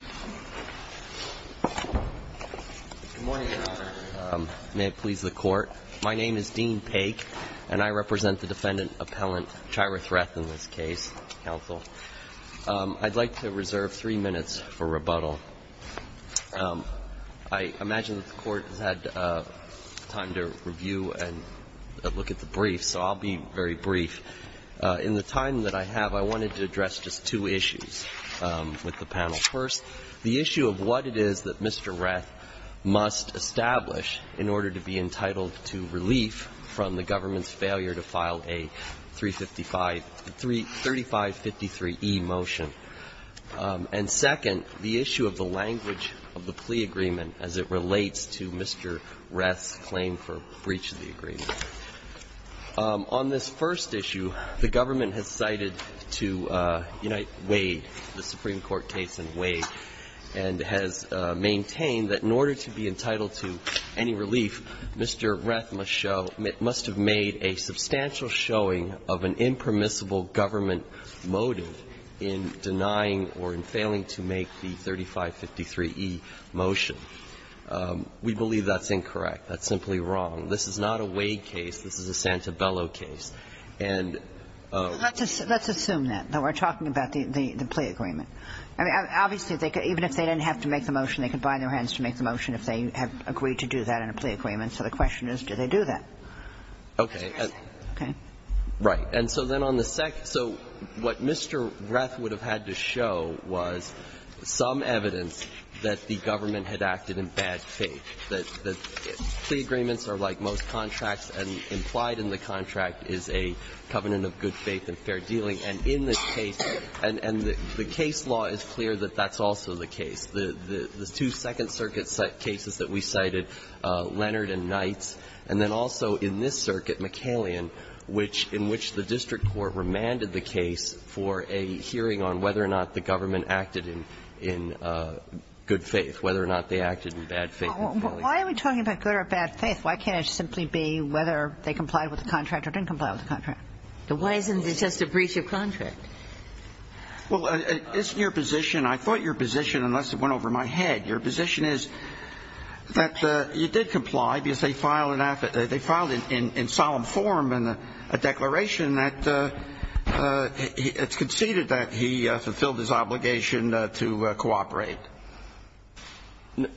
Good morning, Your Honor. May it please the Court. My name is Dean Paik, and I represent the defendant appellant, Chyra Reth, in this case. Counsel, I'd like to reserve three minutes for rebuttal. I imagine that the Court has had time to review and look at the brief, so I'll be very brief. In the time that I have, I wanted to address just two issues with the panel. First, the issue of what it is that Mr. Reth must establish in order to be entitled to relief from the government's failure to file a 3553E motion. And second, the issue of the language of the plea agreement as it relates to Mr. Reth's claim for breach of the agreement. On this first issue, the government has cited to Unite Wade, the Supreme Court case in Wade, and has maintained that in order to be entitled to any relief, Mr. Reth must have made a substantial showing of an impermissible government motive in denying or in failing to make the 3553E motion. We believe that's incorrect. That's simply wrong. This is not a Wade case. This is a Santabello case. And ---- Kagan. So let's assume that. We're talking about the plea agreement. Obviously, even if they didn't have to make the motion, they could bind their hands to make the motion if they agreed to do that in a plea agreement. So the question is, did they do that? Okay. Okay. Right. And so then on the second – so what Mr. Reth would have had to show was some evidence that the government had acted in bad faith, that plea agreements are, like most contracts and implied in the contract is a covenant of good faith and fair dealing. And in this case – and the case law is clear that that's also the case. The two Second Circuit cases that we cited, Leonard and Knights, and then also in this circuit, McCallion, which – in which the district court remanded the case for a hearing on whether or not the government acted in good faith, whether or not they acted in bad faith. Why are we talking about good or bad faith? Why can't it simply be whether they complied with the contract or didn't comply with the contract? Why isn't it just a breach of contract? Well, it's your position. I thought your position, unless it went over my head, your position is that you did comply because they filed an – they filed in solemn form a declaration that it's conceded that he fulfilled his obligation to cooperate.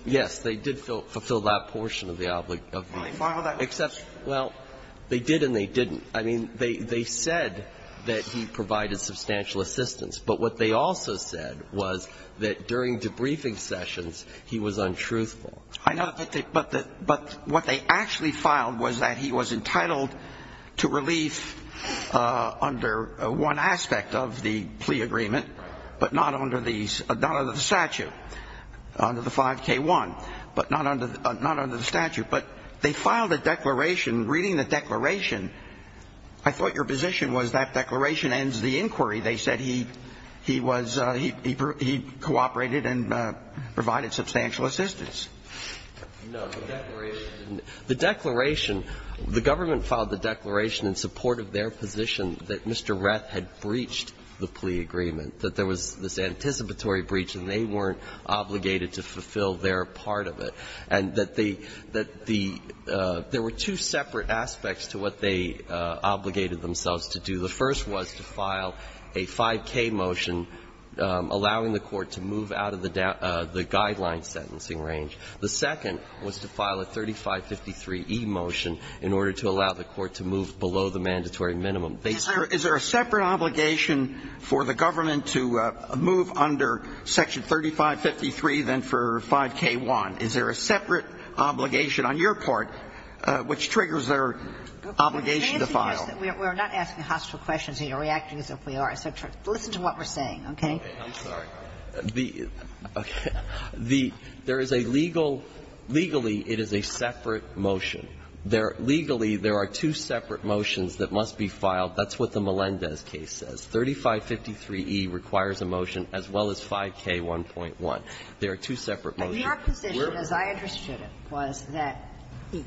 Yes, they did fulfill that portion of the – of the – Well, they filed that. Except – well, they did and they didn't. I mean, they said that he provided substantial assistance. But what they also said was that during debriefing sessions, he was untruthful. I know. But what they actually filed was that he was entitled to relief under one aspect of the plea agreement, but not under the statute. Under the 5K1, but not under – not under the statute. But they filed a declaration. Reading the declaration, I thought your position was that declaration ends the inquiry. They said he – he was – he cooperated and provided substantial assistance. No, the declaration didn't. The declaration – the government filed the declaration in support of their position that Mr. Reth had breached the plea agreement, that there was this anticipatory breach, and they weren't obligated to fulfill their part of it, and that the – that the – there were two separate aspects to what they obligated themselves to do. The first was to file a 5K motion allowing the Court to move out of the – the guideline sentencing range. The second was to file a 3553e motion in order to allow the Court to move below the mandatory minimum. They said – Is there a separate obligation for the government to move under section 3553 than for 5K1? Is there a separate obligation on your part which triggers their obligation to file? We're not asking hostile questions. You're reacting as if we are. So listen to what we're saying, okay? I'm sorry. The – there is a legal – legally, it is a separate motion. There – legally, there are two separate motions that must be filed. That's what the Melendez case says. 3553e requires a motion as well as 5K1.1. There are two separate motions. Your position, as I understood it, was that,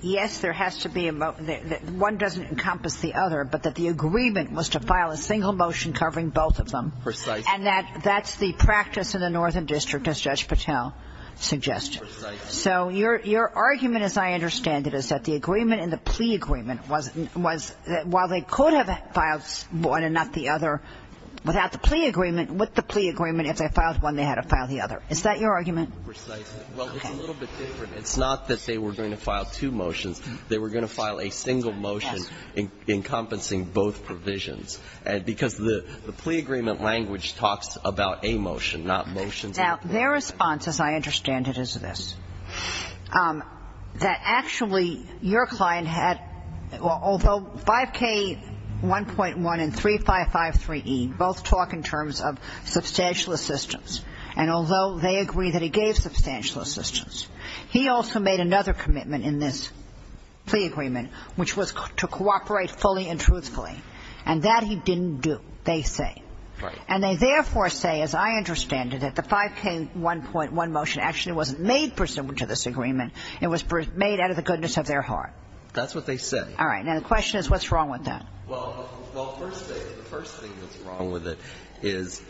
yes, there has to be a – one doesn't encompass the other, but that the agreement was to file a single motion covering both of them. Precisely. And that that's the practice in the Northern District, as Judge Patel suggested. Precisely. So your – your argument, as I understand it, is that the agreement and the plea agreement was – was that while they could have filed one and not the other, without the plea agreement, with the plea agreement, if they filed one, they had to file the other. Is that your argument? Precisely. Well, it's a little bit different. It's not that they were going to file two motions. They were going to file a single motion encompassing both provisions, and – because the plea agreement language talks about a motion, not motions and a plea. Now, their response, as I understand it, is this, that actually, your client had – although 5K1.1 and 3553E both talk in terms of substantial assistance, and although they agree that he gave substantial assistance, he also made another commitment in this plea agreement, which was to cooperate fully and truthfully. And that he didn't do, they say. Right. And they, therefore, say, as I understand it, that the 5K1.1 motion actually wasn't made pursuant to this agreement. It was made out of the goodness of their heart. That's what they say. All right. Now, the question is, what's wrong with that? Well, first thing, the first thing that's wrong with it is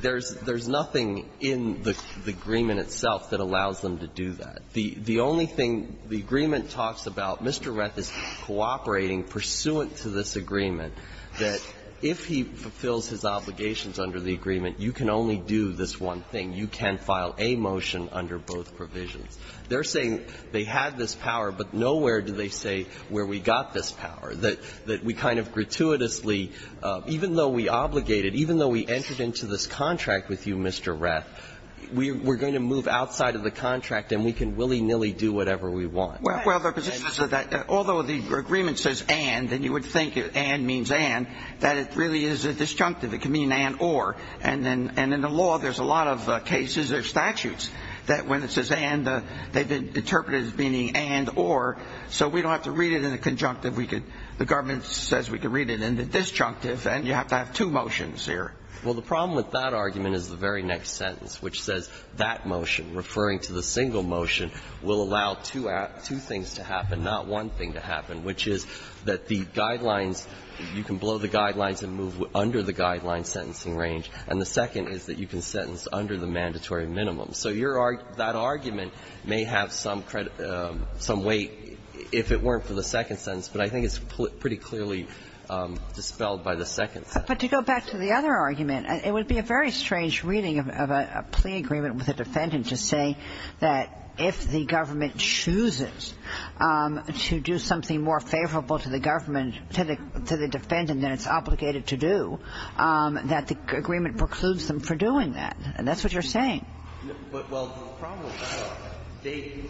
there's nothing in the agreement itself that allows them to do that. The only thing the agreement talks about, Mr. Reth is cooperating pursuant to this agreement, and he fulfills his obligations under the agreement. You can only do this one thing. You can file a motion under both provisions. They're saying they had this power, but nowhere do they say where we got this power, that we kind of gratuitously, even though we obligated, even though we entered into this contract with you, Mr. Reth, we're going to move outside of the contract and we can willy-nilly do whatever we want. Well, their position is that although the agreement says and, then you would think that and means and, that it really is a disjunctive. It can mean and or. And then in the law, there's a lot of cases or statutes that when it says and, they've interpreted it as meaning and or, so we don't have to read it in the conjunctive. We could, the government says we could read it in the disjunctive, and you have to have two motions here. Well, the problem with that argument is the very next sentence, which says that motion, referring to the single motion, will allow two things to happen, not one thing to happen, which is that the guidelines, you can blow the guidelines and move under the guideline sentencing range. And the second is that you can sentence under the mandatory minimum. So your argument, that argument may have some weight if it weren't for the second sentence, but I think it's pretty clearly dispelled by the second sentence. But to go back to the other argument, it would be a very strange reading of a plea agreement with a defendant to say that if the government chooses to do something more favorable to the government, to the defendant than it's obligated to do, that the agreement precludes them from doing that. And that's what you're saying. But, well, the problem is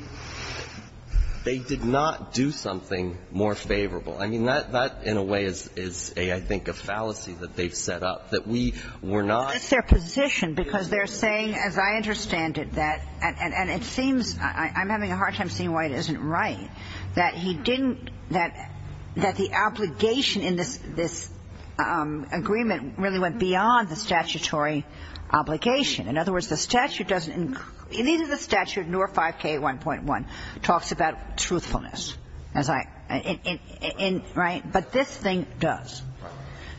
they did not do something more favorable. I mean, that in a way is a, I think, a fallacy that they've set up, that we were not. But it's their position, because they're saying, as I understand it, that, and it seems, I'm having a hard time seeing why it isn't right, that he didn't, that the obligation in this agreement really went beyond the statutory obligation. In other words, the statute doesn't, neither the statute nor 5K1.1 talks about truthfulness, as I, in, right? But this thing does.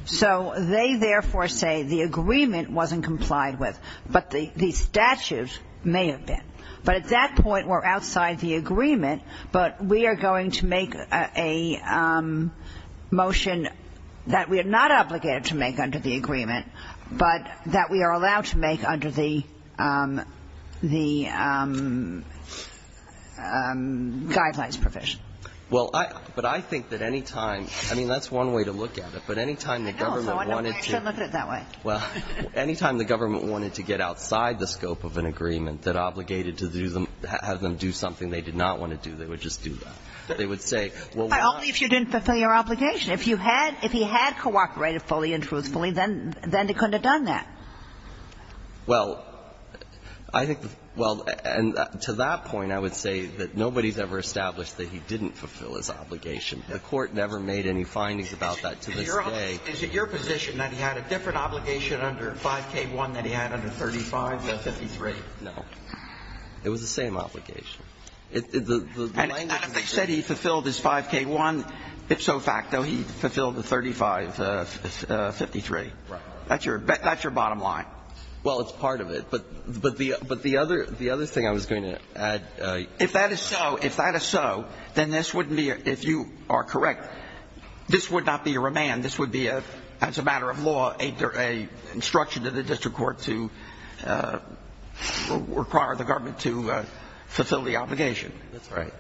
So they, therefore, say the agreement wasn't complied with, but the statute may have been. But at that point, we're outside the agreement, but we are going to make a motion that we are not obligated to make under the agreement, but that we are allowed to make under the, the guidelines provision. Well, I, but I think that any time, I mean, that's one way to look at it, but I think that any time the government wanted to get outside the scope of an agreement that obligated to do them, have them do something they did not want to do, they would just do that. They would say, well, why? Only if you didn't fulfill your obligation. If you had, if he had cooperated fully and truthfully, then, then they couldn't have done that. Well, I think, well, and to that point, I would say that nobody's ever established that he didn't fulfill his obligation. The Court never made any findings about that to this day. Is it your position that he had a different obligation under 5k-1 than he had under 35-53? No. It was the same obligation. And if they said he fulfilled his 5k-1, ipso facto, he fulfilled the 35-53. Right. That's your, that's your bottom line. Well, it's part of it. But, but the, but the other, the other thing I was going to add. If that is so, if that is so, then this wouldn't be, if you are correct, this would not be a remand. This would be a, as a matter of law, a, a instruction to the district court to require the government to fulfill the obligation. That's right.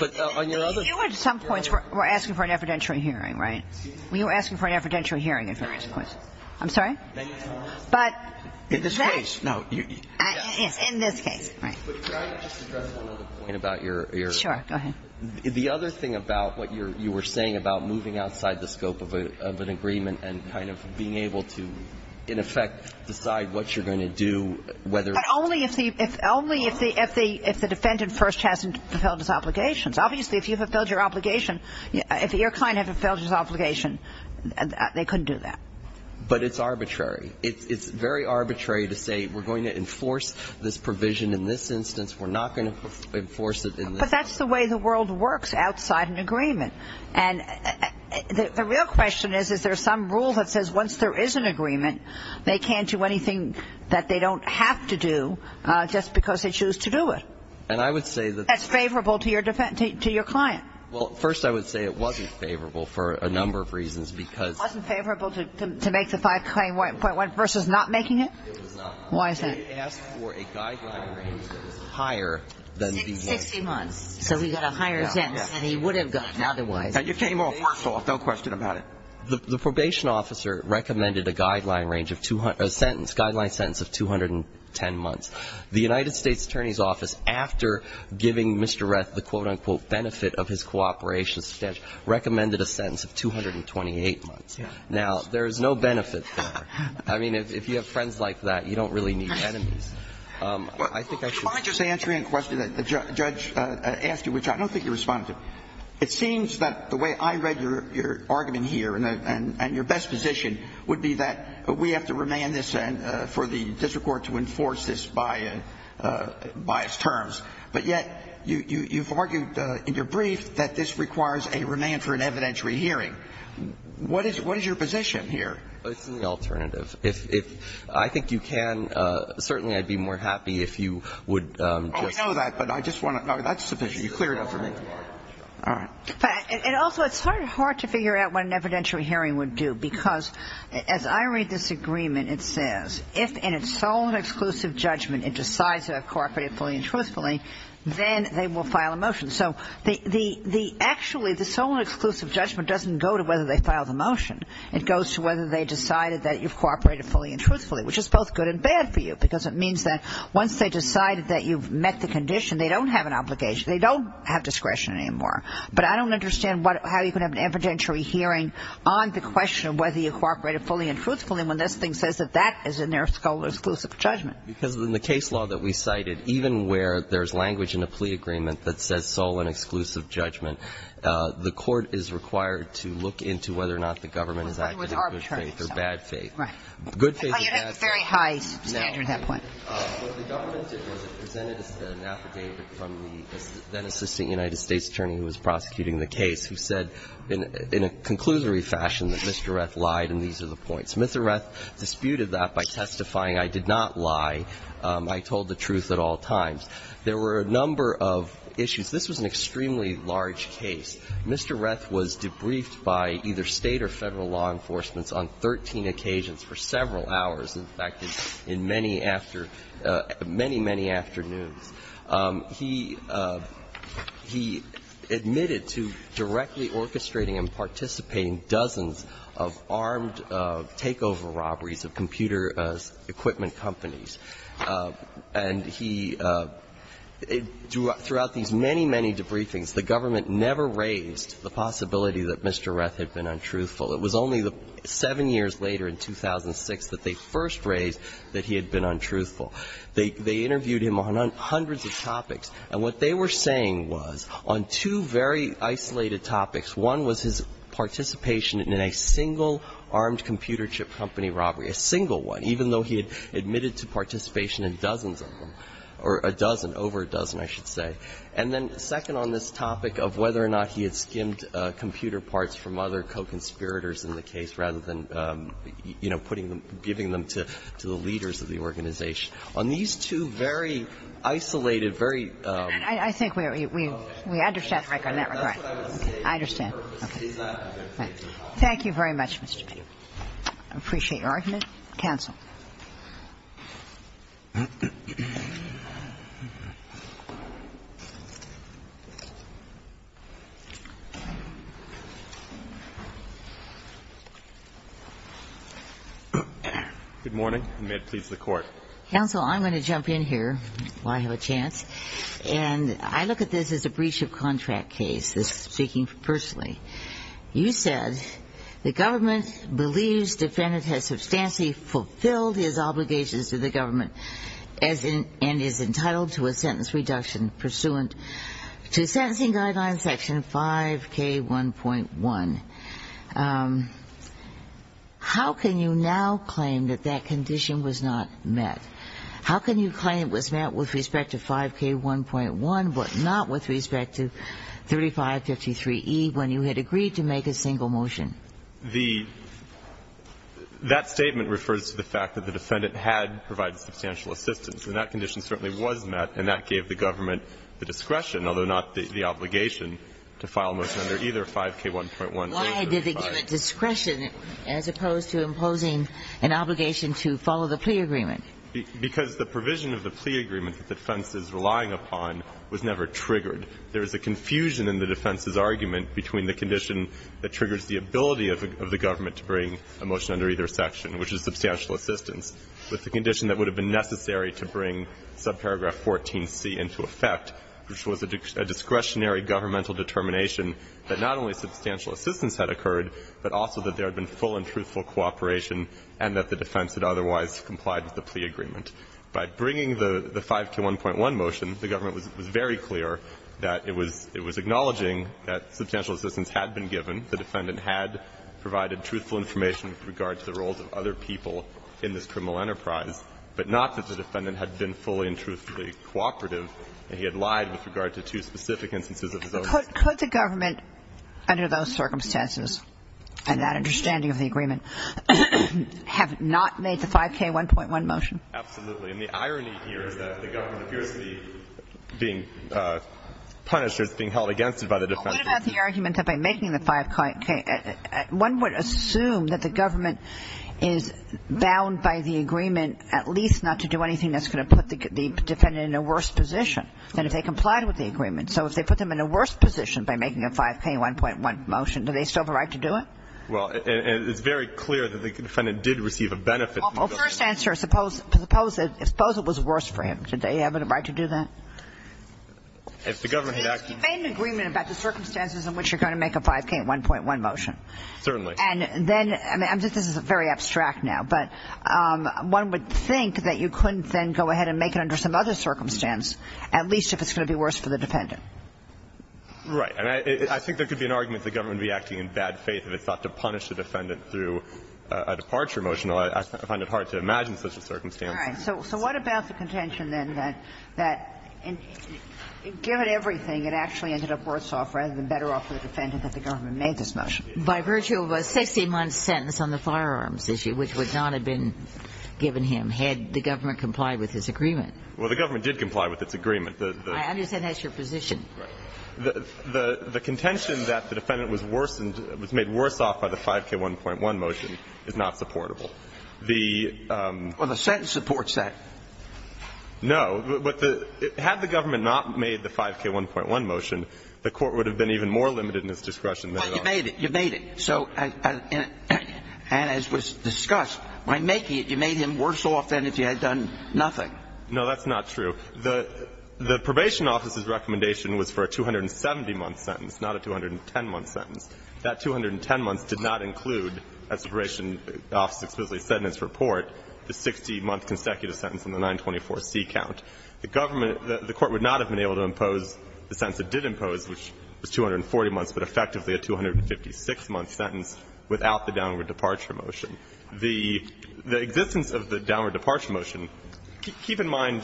But on your other. You were at some points were asking for an evidentiary hearing, right? Were you asking for an evidentiary hearing at various points? I'm sorry? But. In this case, no. In this case, right. But can I just address one other point about your. Sure, go ahead. The other thing about what you're, you were saying about moving outside the scope of a, of an agreement and kind of being able to, in effect, decide what you're going to do, whether. But only if the, if, only if the, if the, if the defendant first hasn't fulfilled his obligations. Obviously, if you've fulfilled your obligation, if your client hasn't fulfilled his obligation, they couldn't do that. But it's arbitrary. It's very arbitrary to say we're going to enforce this provision in this instance. We're not going to enforce it in. But that's the way the world works outside an agreement. And the real question is, is there some rule that says once there is an agreement, they can't do anything that they don't have to do just because they choose to do it. And I would say that. That's favorable to your defendant, to your client. Well, first, I would say it wasn't favorable for a number of reasons because. Wasn't favorable to, to make the 5 claim 1.1 versus not making it? It was not. Why is that? They asked for a guideline range that was higher than the. 60 months. So we got a higher sentence than he would have gotten otherwise. And you came off first off, no question about it. The, the probation officer recommended a guideline range of 200, a sentence, guideline sentence of 210 months. The United States Attorney's Office, after giving Mr. Reth the quote, unquote, benefit of his cooperation, recommended a sentence of 228 months. Now, there is no benefit there. I mean, if you have friends like that, you don't really need enemies. I think I should. Well, let me just answer a question that the judge asked you, which I don't think you responded to. It seems that the way I read your argument here and your best position would be that we have to remand this for the district court to enforce this by its terms. But yet, you, you've argued in your brief that this requires a remand for an evidentiary hearing. What is, what is your position here? It's an alternative. If, if I think you can, certainly I'd be more happy if you would just. Oh, I know that, but I just want to, that's sufficient. You're clear enough for me. All right. And also, it's sort of hard to figure out what an evidentiary hearing would do, because as I read this agreement, it says, if in its sole and exclusive judgment it decides to have cooperated fully and truthfully, then they will file a motion. So the, the, the, actually the sole and exclusive judgment doesn't go to whether they file the motion. It goes to whether they decided that you've cooperated fully and truthfully, which is both good and bad for you, because it means that once they decided that you've met the condition, they don't have an obligation. They don't have discretion anymore. But I don't understand what, how you can have an evidentiary hearing on the question of whether you cooperated fully and truthfully when this thing says that that is in their sole and exclusive judgment. Because in the case law that we cited, even where there's language in a plea agreement that says sole and exclusive judgment, the court is required to look into whether or not the government is acting in good faith or bad faith. Right. Good faith or bad faith. Oh, you had a very high standard at that point. No. What the government did was it presented us with an affidavit from the then-assisting United States attorney who was prosecuting the case, who said in a, in a conclusory fashion that Mr. Reth lied and these are the points. Mr. Reth disputed that by testifying, I did not lie. I told the truth at all times. There were a number of issues. This was an extremely large case. Mr. Reth was debriefed by either State or Federal law enforcements on 13 occasions for several hours, in fact, in many after, many, many afternoons. He, he admitted to directly orchestrating and participating dozens of armed, takeover robberies of computer equipment companies. And he, throughout these many, many debriefings, the government never raised the possibility that Mr. Reth had been untruthful. It was only seven years later in 2006 that they first raised that he had been untruthful. They, they interviewed him on hundreds of topics. And what they were saying was, on two very isolated topics, one was his participation in a single armed computer chip company robbery, a single one, even though he had admitted to participation in dozens of them, or a dozen, over a dozen, I should say, and then second on this topic of whether or not he had skimmed computer parts from other co-conspirators in the case, rather than, you know, putting them, giving them to, to the leaders of the organization. On these two very isolated, very --- I think we, we, we understand, Your Honor, that regret. I understand. Okay. Thank you very much, Mr. Petty. I appreciate your argument. Counsel. Good morning, and may it please the Court. Counsel, I'm going to jump in here while I have a chance. And I look at this as a breach of contract case, this speaking personally. You said, the government believes defendant has substantially fulfilled his obligations to the government, as in, and is entitled to a sentence reduction pursuant to sentencing guideline section 5K1.1. How can you now claim that that condition was not met? How can you claim it was met with respect to 5K1.1, but not with respect to 3553E, when you had agreed to make a single motion? The, that statement refers to the fact that the defendant had provided substantial assistance, and that condition certainly was met, and that gave the government the discretion, although not the, the obligation, to file a motion under either 5K1.1 or 3553E. Why did they give it discretion as opposed to imposing an obligation to follow the plea agreement? Because the provision of the plea agreement that the defense is relying upon was never triggered. There is a confusion in the defense's argument between the condition that triggers the ability of the government to bring a motion under either section, which is substantial assistance, with the condition that would have been necessary to bring subparagraph 14C into effect, which was a discretionary governmental determination that not only substantial assistance had occurred, but also that there had been full and truthful cooperation and that the defense had otherwise complied with the plea agreement. By bringing the, the 5K1.1 motion, the government was, was very clear that it was, it was acknowledging that substantial assistance had been given. The defendant had provided truthful information with regard to the roles of other people in this criminal enterprise, but not that the defendant had been fully and truthfully cooperative and he had lied with regard to two specific instances of his own. Could, could the government, under those circumstances and that understanding of the agreement, have not made the 5K1.1 motion? Absolutely. And the irony here is that the government appears to be being punished or is being held against it by the defendant. But what about the argument that by making the 5K, one would assume that the government is bound by the agreement at least not to do anything that's going to put the defendant in a worse position than if they complied with the agreement. So if they put them in a worse position by making a 5K1.1 motion, do they still have a right to do it? Well, and it's very clear that the defendant did receive a benefit. Well, first answer, suppose, suppose it was worse for him. Did they have a right to do that? If the government had acted You made an agreement about the circumstances in which you're going to make a 5K1.1 motion. Certainly. And then, I mean, this is very abstract now, but one would think that you couldn't then go ahead and make it under some other circumstance, at least if it's going to be worse for the defendant. Right. And I think there could be an argument that the government would be acting in bad faith if it's not to punish the defendant through a departure motion. I find it hard to imagine such a circumstance. All right. So what about the contention, then, that given everything, it actually ended up worse off rather than better off for the defendant if the government made this motion? By virtue of a 16-month sentence on the firearms issue, which would not have been given him, had the government complied with his agreement. Well, the government did comply with its agreement. I understand that's your position. Right. The contention that the defendant was worsened, was made worse off by the 5K1.1 motion is not supportable. The ---- Well, the sentence supports that. No. But the ---- had the government not made the 5K1.1 motion, the Court would have been even more limited in its discretion than it ought to. But you made it. You made it. So and as was discussed, by making it, you made him worse off than if you had done nothing. No, that's not true. The probation office's recommendation was for a 270-month sentence, not a 210-month sentence. That 210 months did not include, as the probation office explicitly said in its report, the 60-month consecutive sentence on the 924C count. The government ---- the Court would not have been able to impose the sentence it did impose, which was 240 months, but effectively a 256-month sentence without the downward departure motion. The existence of the downward departure motion, keep in mind,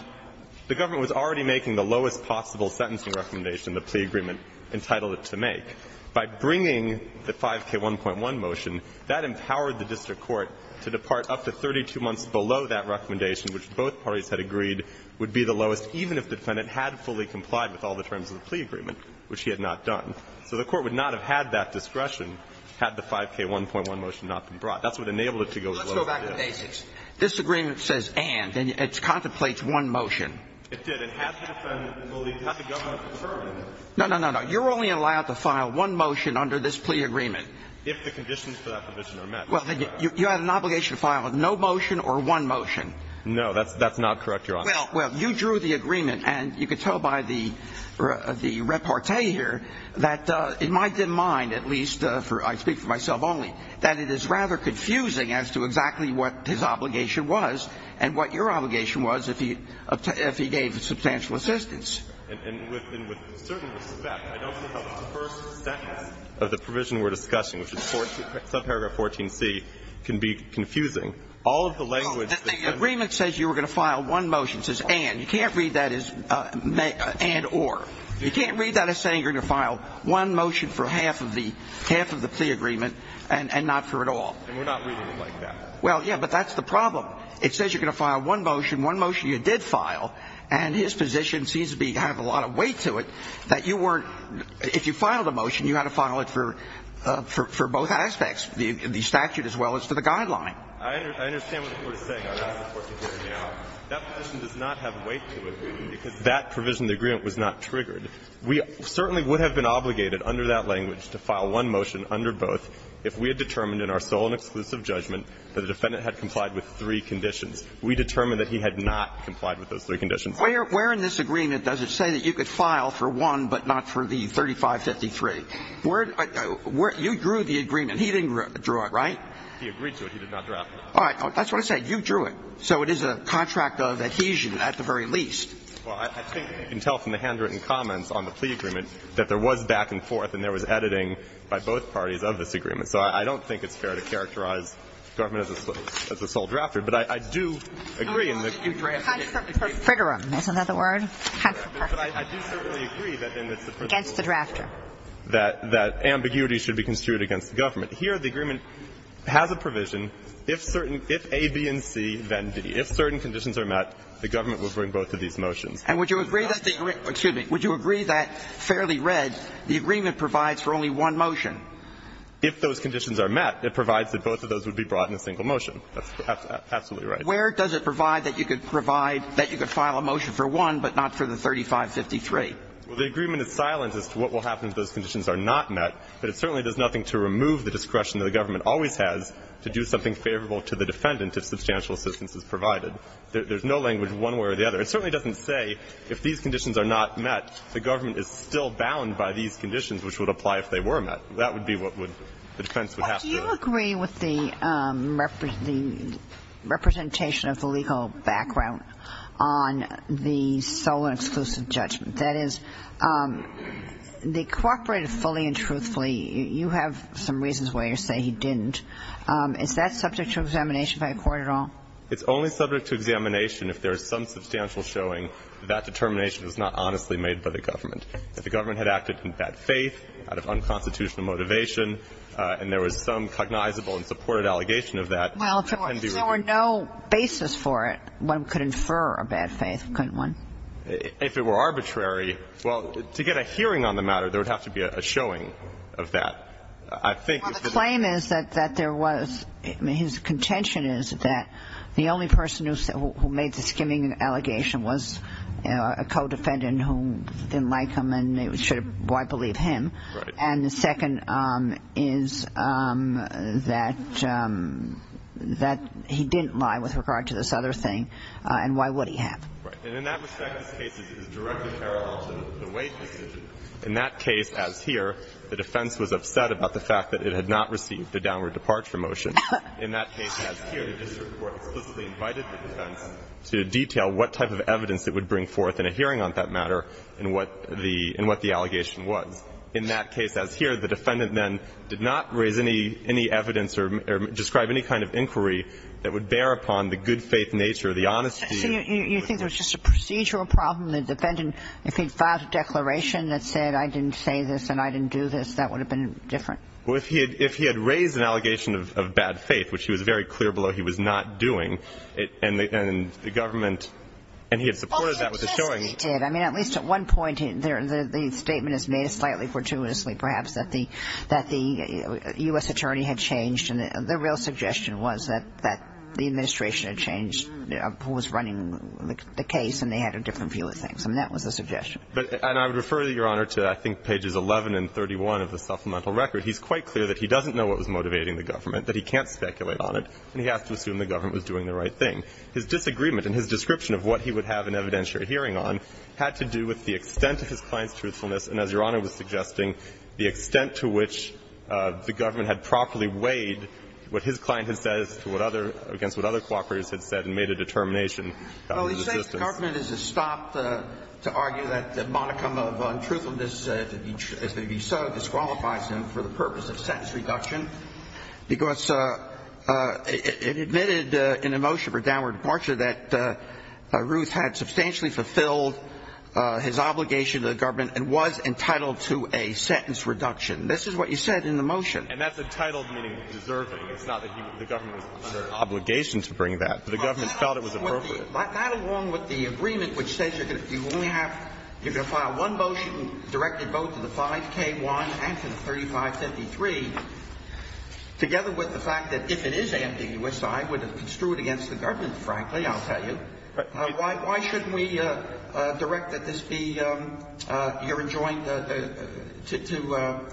the government was already making the lowest possible sentencing recommendation the plea agreement entitled it to make. By bringing the 5K1.1 motion, that empowered the district court to depart up to 32 months below that recommendation, which both parties had agreed would be the lowest, even if the defendant had fully complied with all the terms of the plea agreement, which he had not done. So the Court would not have had that discretion had the 5K1.1 motion not been brought. That's what enabled it to go below the limit. Let's go back to basics. This agreement says and, and it contemplates one motion. It did. And had the defendant believed it, had the government confirmed it. No, no, no, no. You're only allowed to file one motion under this plea agreement. If the conditions for that provision are met. Well, you have an obligation to file no motion or one motion. No, that's not correct, Your Honor. Well, you drew the agreement, and you can tell by the repartee here that in my dim mind, at least, I speak for myself only, that it is rather confusing as to exactly what his obligation was and what your obligation was if he gave substantial assistance. And with certain respect, I don't think the first seconds of the provision we're discussing, which is subparagraph 14C, can be confusing. All of the language that's been ---- The agreement says you were going to file one motion. It says and. You can't read that as and or. You can't read that as saying you're going to file one motion for half of the plea agreement and not for at all. And we're not reading it like that. Well, yeah, but that's the problem. It says you're going to file one motion. One motion you did file. And his position seems to have a lot of weight to it that you weren't ---- if you filed a motion, you had to file it for both aspects, the statute as well as for the guideline. I understand what the Court is saying on that, of course, because that position does not have weight to it because that provision of the agreement was not triggered. We certainly would have been obligated under that language to file one motion under both if we had determined in our sole and exclusive judgment that the defendant had complied with three conditions. We determined that he had not complied with those three conditions. Where in this agreement does it say that you could file for one but not for the 3553? You drew the agreement. He didn't draw it, right? He agreed to it. He did not draft it. All right. That's what I said. You drew it. So it is a contract of adhesion at the very least. Well, I think you can tell from the handwritten comments on the plea agreement that there was back and forth and there was editing by both parties of this agreement. So I don't think it's fair to characterize the government as a sole drafter. But I do agree in the case of this case that ambiguity should be construed against the government. Here the agreement has a provision, if certain, if A, B, and C, then D. If certain conditions are met, the government will bring both of these motions. And would you agree that the agreement, excuse me, would you agree that, fairly read, the agreement provides for only one motion? If those conditions are met, it provides that both of those would be brought in a single motion. That's absolutely right. Where does it provide that you could provide, that you could file a motion for one, but not for the 3553? Well, the agreement is silent as to what will happen if those conditions are not met. But it certainly does nothing to remove the discretion that the government always has to do something favorable to the defendant if substantial assistance is provided. There's no language one way or the other. It certainly doesn't say if these conditions are not met, the government is still bound by these conditions, which would apply if they were met. That would be what the defense would have to do. Do you agree with the representation of the legal background on the sole and exclusive judgment? That is, they cooperated fully and truthfully. You have some reasons why you say he didn't. Is that subject to examination by a court at all? It's only subject to examination if there is some substantial showing that that determination was not honestly made by the government. If the government had acted in bad faith, out of unconstitutional motivation, and there was some cognizable and supported allegation of that. Well, if there were no basis for it, one could infer a bad faith, couldn't one? If it were arbitrary. Well, to get a hearing on the matter, there would have to be a showing of that. I think the claim is that there was his contention is that the only person who made the skimming allegation was a co-defendant who didn't like him and should have believed him. And the second is that he didn't lie with regard to this other thing, and why would he have? Right. And in that respect, this case is directly parallel to the Wade decision. In that case, as here, the defense was upset about the fact that it had not received the downward departure motion. In that case, as here, the district court explicitly invited the defense to detail what type of evidence it would bring forth in a hearing on that matter and what the allegation was. In that case, as here, the defendant then did not raise any evidence or describe any kind of inquiry that would bear upon the good faith nature, the honesty. So you think there was just a procedural problem? The defendant, if he filed a declaration that said, I didn't say this and I didn't do this, that would have been different? Well, if he had raised an allegation of bad faith, which he was very clear below he was not doing, and the government, and he had supported that with a showing. I mean, at least at one point, the statement is made slightly fortuitously, perhaps, that the U.S. attorney had changed. And the real suggestion was that the administration had changed who was running the case, and they had a different view of things. I mean, that was the suggestion. And I would refer, Your Honor, to, I think, pages 11 and 31 of the supplemental record. He's quite clear that he doesn't know what was motivating the government, that he can't speculate on it, and he has to assume the government was doing the right thing. His disagreement and his description of what he would have an evidentiary hearing on had to do with the extent of his client's truthfulness and, as Your Honor was suggesting, the extent to which the government had properly weighed what his client had said as to what other, against what other cooperators had said and made a determination about his existence. Well, he says the government has stopped to argue that the modicum of untruthfulness, if it be so, disqualifies him for the purpose of sentence reduction, because it admitted in a motion for downward departure that Ruth had substantially fulfilled his obligation to the government and was entitled to a sentence reduction. This is what you said in the motion. And that's entitled, meaning deserving. It's not that the government was under an obligation to bring that, but the government felt it was appropriate. Not along with the agreement which says you're going to only have, you're going to file one motion directed both to the 5k1 and to the 3553, together with the fact that if it is ambiguous, I would have construed against the government, frankly, I'll tell you. Why shouldn't we direct that this be, you're enjoined to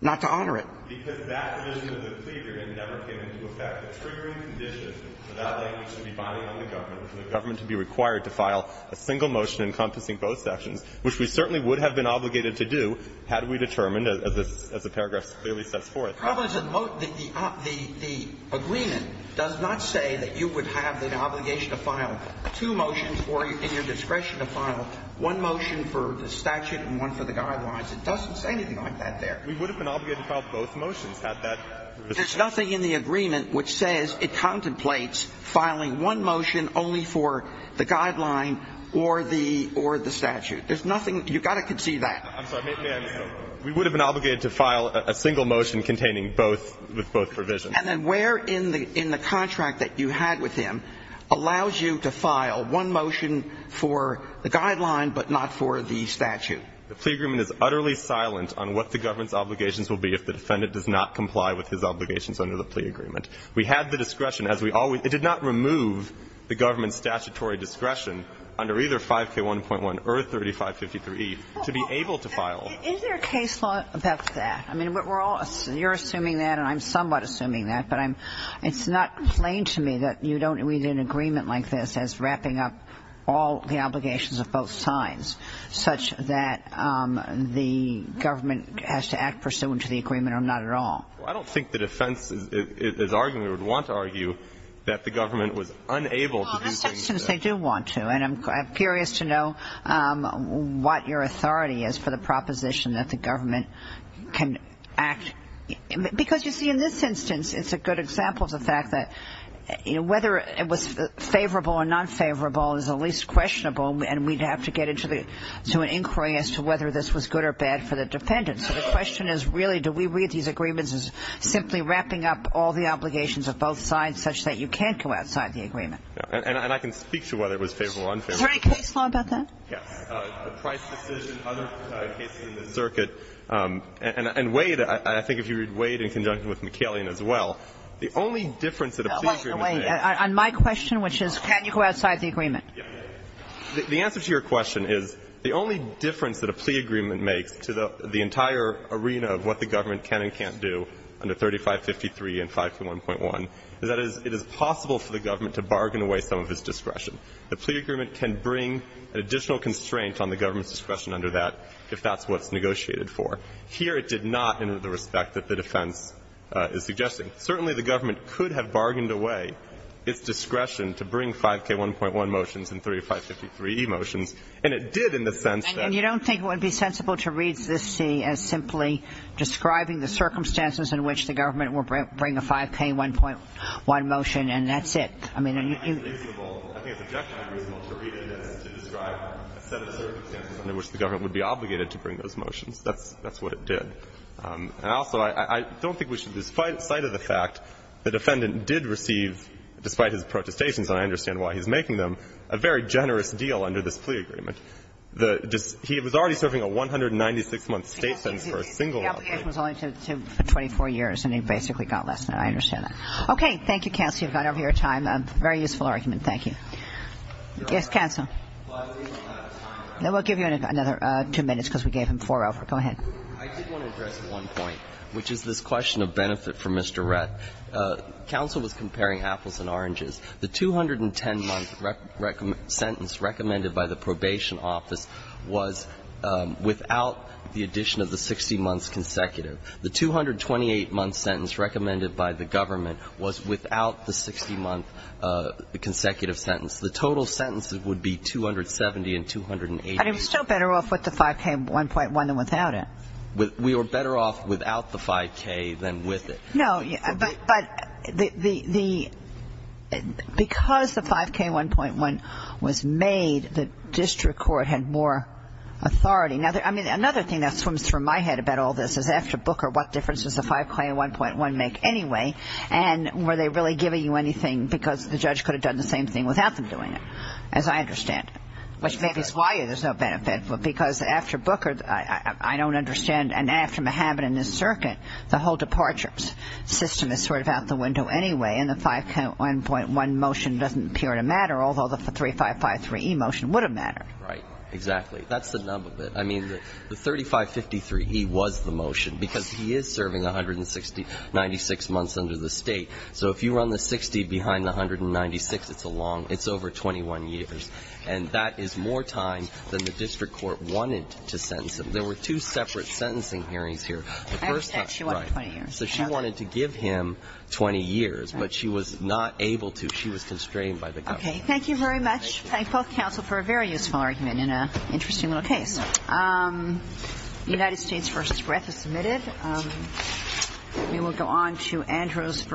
not to honor it? Because that vision of the plea agreement never came into effect. The triggering condition for that language to be binding on the government was for the government to be required to file a single motion encompassing both sections, which we certainly would have been obligated to do had we determined, as this, as the paragraph clearly sets forth. The problem is that the agreement does not say that you would have the obligation to file two motions or in your discretion to file one motion for the statute and one for the guidelines. It doesn't say anything like that there. We would have been obligated to file both motions had that. There's nothing in the agreement which says it contemplates filing one motion only for the guideline or the statute. There's nothing, you've got to conceive that. I'm sorry, may I interrupt? We would have been obligated to file a single motion containing both, with both provisions. And then where in the contract that you had with him allows you to file one motion for the guideline but not for the statute? The plea agreement is utterly silent on what the government's obligations will be if the defendant does not comply with his obligations under the plea agreement. We had the discretion, as we always, it did not remove the government's statutory discretion under either 5K1.1 or 3553E to be able to file. Is there a case law about that? I mean, we're all, you're assuming that and I'm somewhat assuming that, but I'm, it's not plain to me that you don't read an agreement like this as wrapping up all the obligations of both sides, such that the government has to act pursuant to the agreement or not at all. I don't think the defense is arguing, or would want to argue, that the government was unable to do things that they do want to. And I'm curious to know what your authority is for the proposition that the government can act, because you see, in this instance, it's a good example of the fact that, you know, whether it was favorable or not favorable is at least questionable and we'd have to get into the, to an inquiry as to whether this was good or bad for the defendant. So the question is really, do we read these agreements as simply wrapping up all the obligations of both sides such that you can't go outside the agreement? And I can speak to whether it was favorable or unfavorable. Is there any case law about that? Yes. Price decision, other cases in the circuit, and Wade, I think if you read Wade in conjunction with McCallion as well, the only difference that a plea agreement makes On my question, which is, can you go outside the agreement? The answer to your question is, the only difference that a plea agreement makes to the entire arena of what the government can and can't do under 3553 and 521.1 is that it is possible for the government to bargain away some of its discretion. The plea agreement can bring an additional constraint on the government's discretion under that if that's what it's negotiated for. Here, it did not in the respect that the defense is suggesting. Certainly, the government could have bargained away its discretion to bring 5K1.1 motions and 3553e motions, and it did in the sense that And you don't think it would be sensible to read this, see, as simply describing the circumstances in which the government will bring a 5K1.1 motion, and that's it. I mean, you I think it's objectionable to read it as to describe a set of circumstances under which the government would be obligated to bring those motions. That's what it did. And also, I don't think we should, despite the sight of the fact, the defendant did receive, despite his protestations, and I understand why he's making them, a very generous deal under this plea agreement. He was already serving a 196-month state sentence for a single outbreak. The obligation was only for 24 years, and he basically got less than that. I understand that. Okay. Thank you, counsel. You've gone over your time. Very useful argument. Thank you. Yes, counsel. We'll give you another two minutes because we gave him four over. Go ahead. I did want to address one point, which is this question of benefit for Mr. Rett. Counsel was comparing apples and oranges. The 210-month sentence recommended by the probation office was without the addition of the 60-months consecutive. The 228-month sentence recommended by the government was without the 60-month consecutive sentence. The total sentences would be 270 and 280. And it was still better off with the 5K, 1.1, than without it. We were better off without the 5K than with it. No, but because the 5K, 1.1 was made, the district court had more authority. I mean, another thing that swims through my head about all this is after Booker, what difference does the 5K, 1.1 make anyway? And were they really giving you anything because the judge could have done the same thing without them doing it? As I understand it. Which maybe is why there's no benefit. But because after Booker, I don't understand. And after Mahabat and his circuit, the whole departure system is sort of out the window anyway, and the 5K, 1.1 motion doesn't appear to matter, although the 3553E motion would have mattered. Right. Exactly. That's the nub of it. The 3553E was the motion, because he is serving 196 months under the state. So if you run the 60 behind the 196, it's over 21 years. And that is more time than the district court wanted to sentence him. There were two separate sentencing hearings here. I understand she wanted 20 years. So she wanted to give him 20 years, but she was not able to. She was constrained by the government. Thank you very much. I thank both counsel for a very useful argument in an interesting little case. United States v. Brett is submitted. We will go on to Andrews v. Cervantes.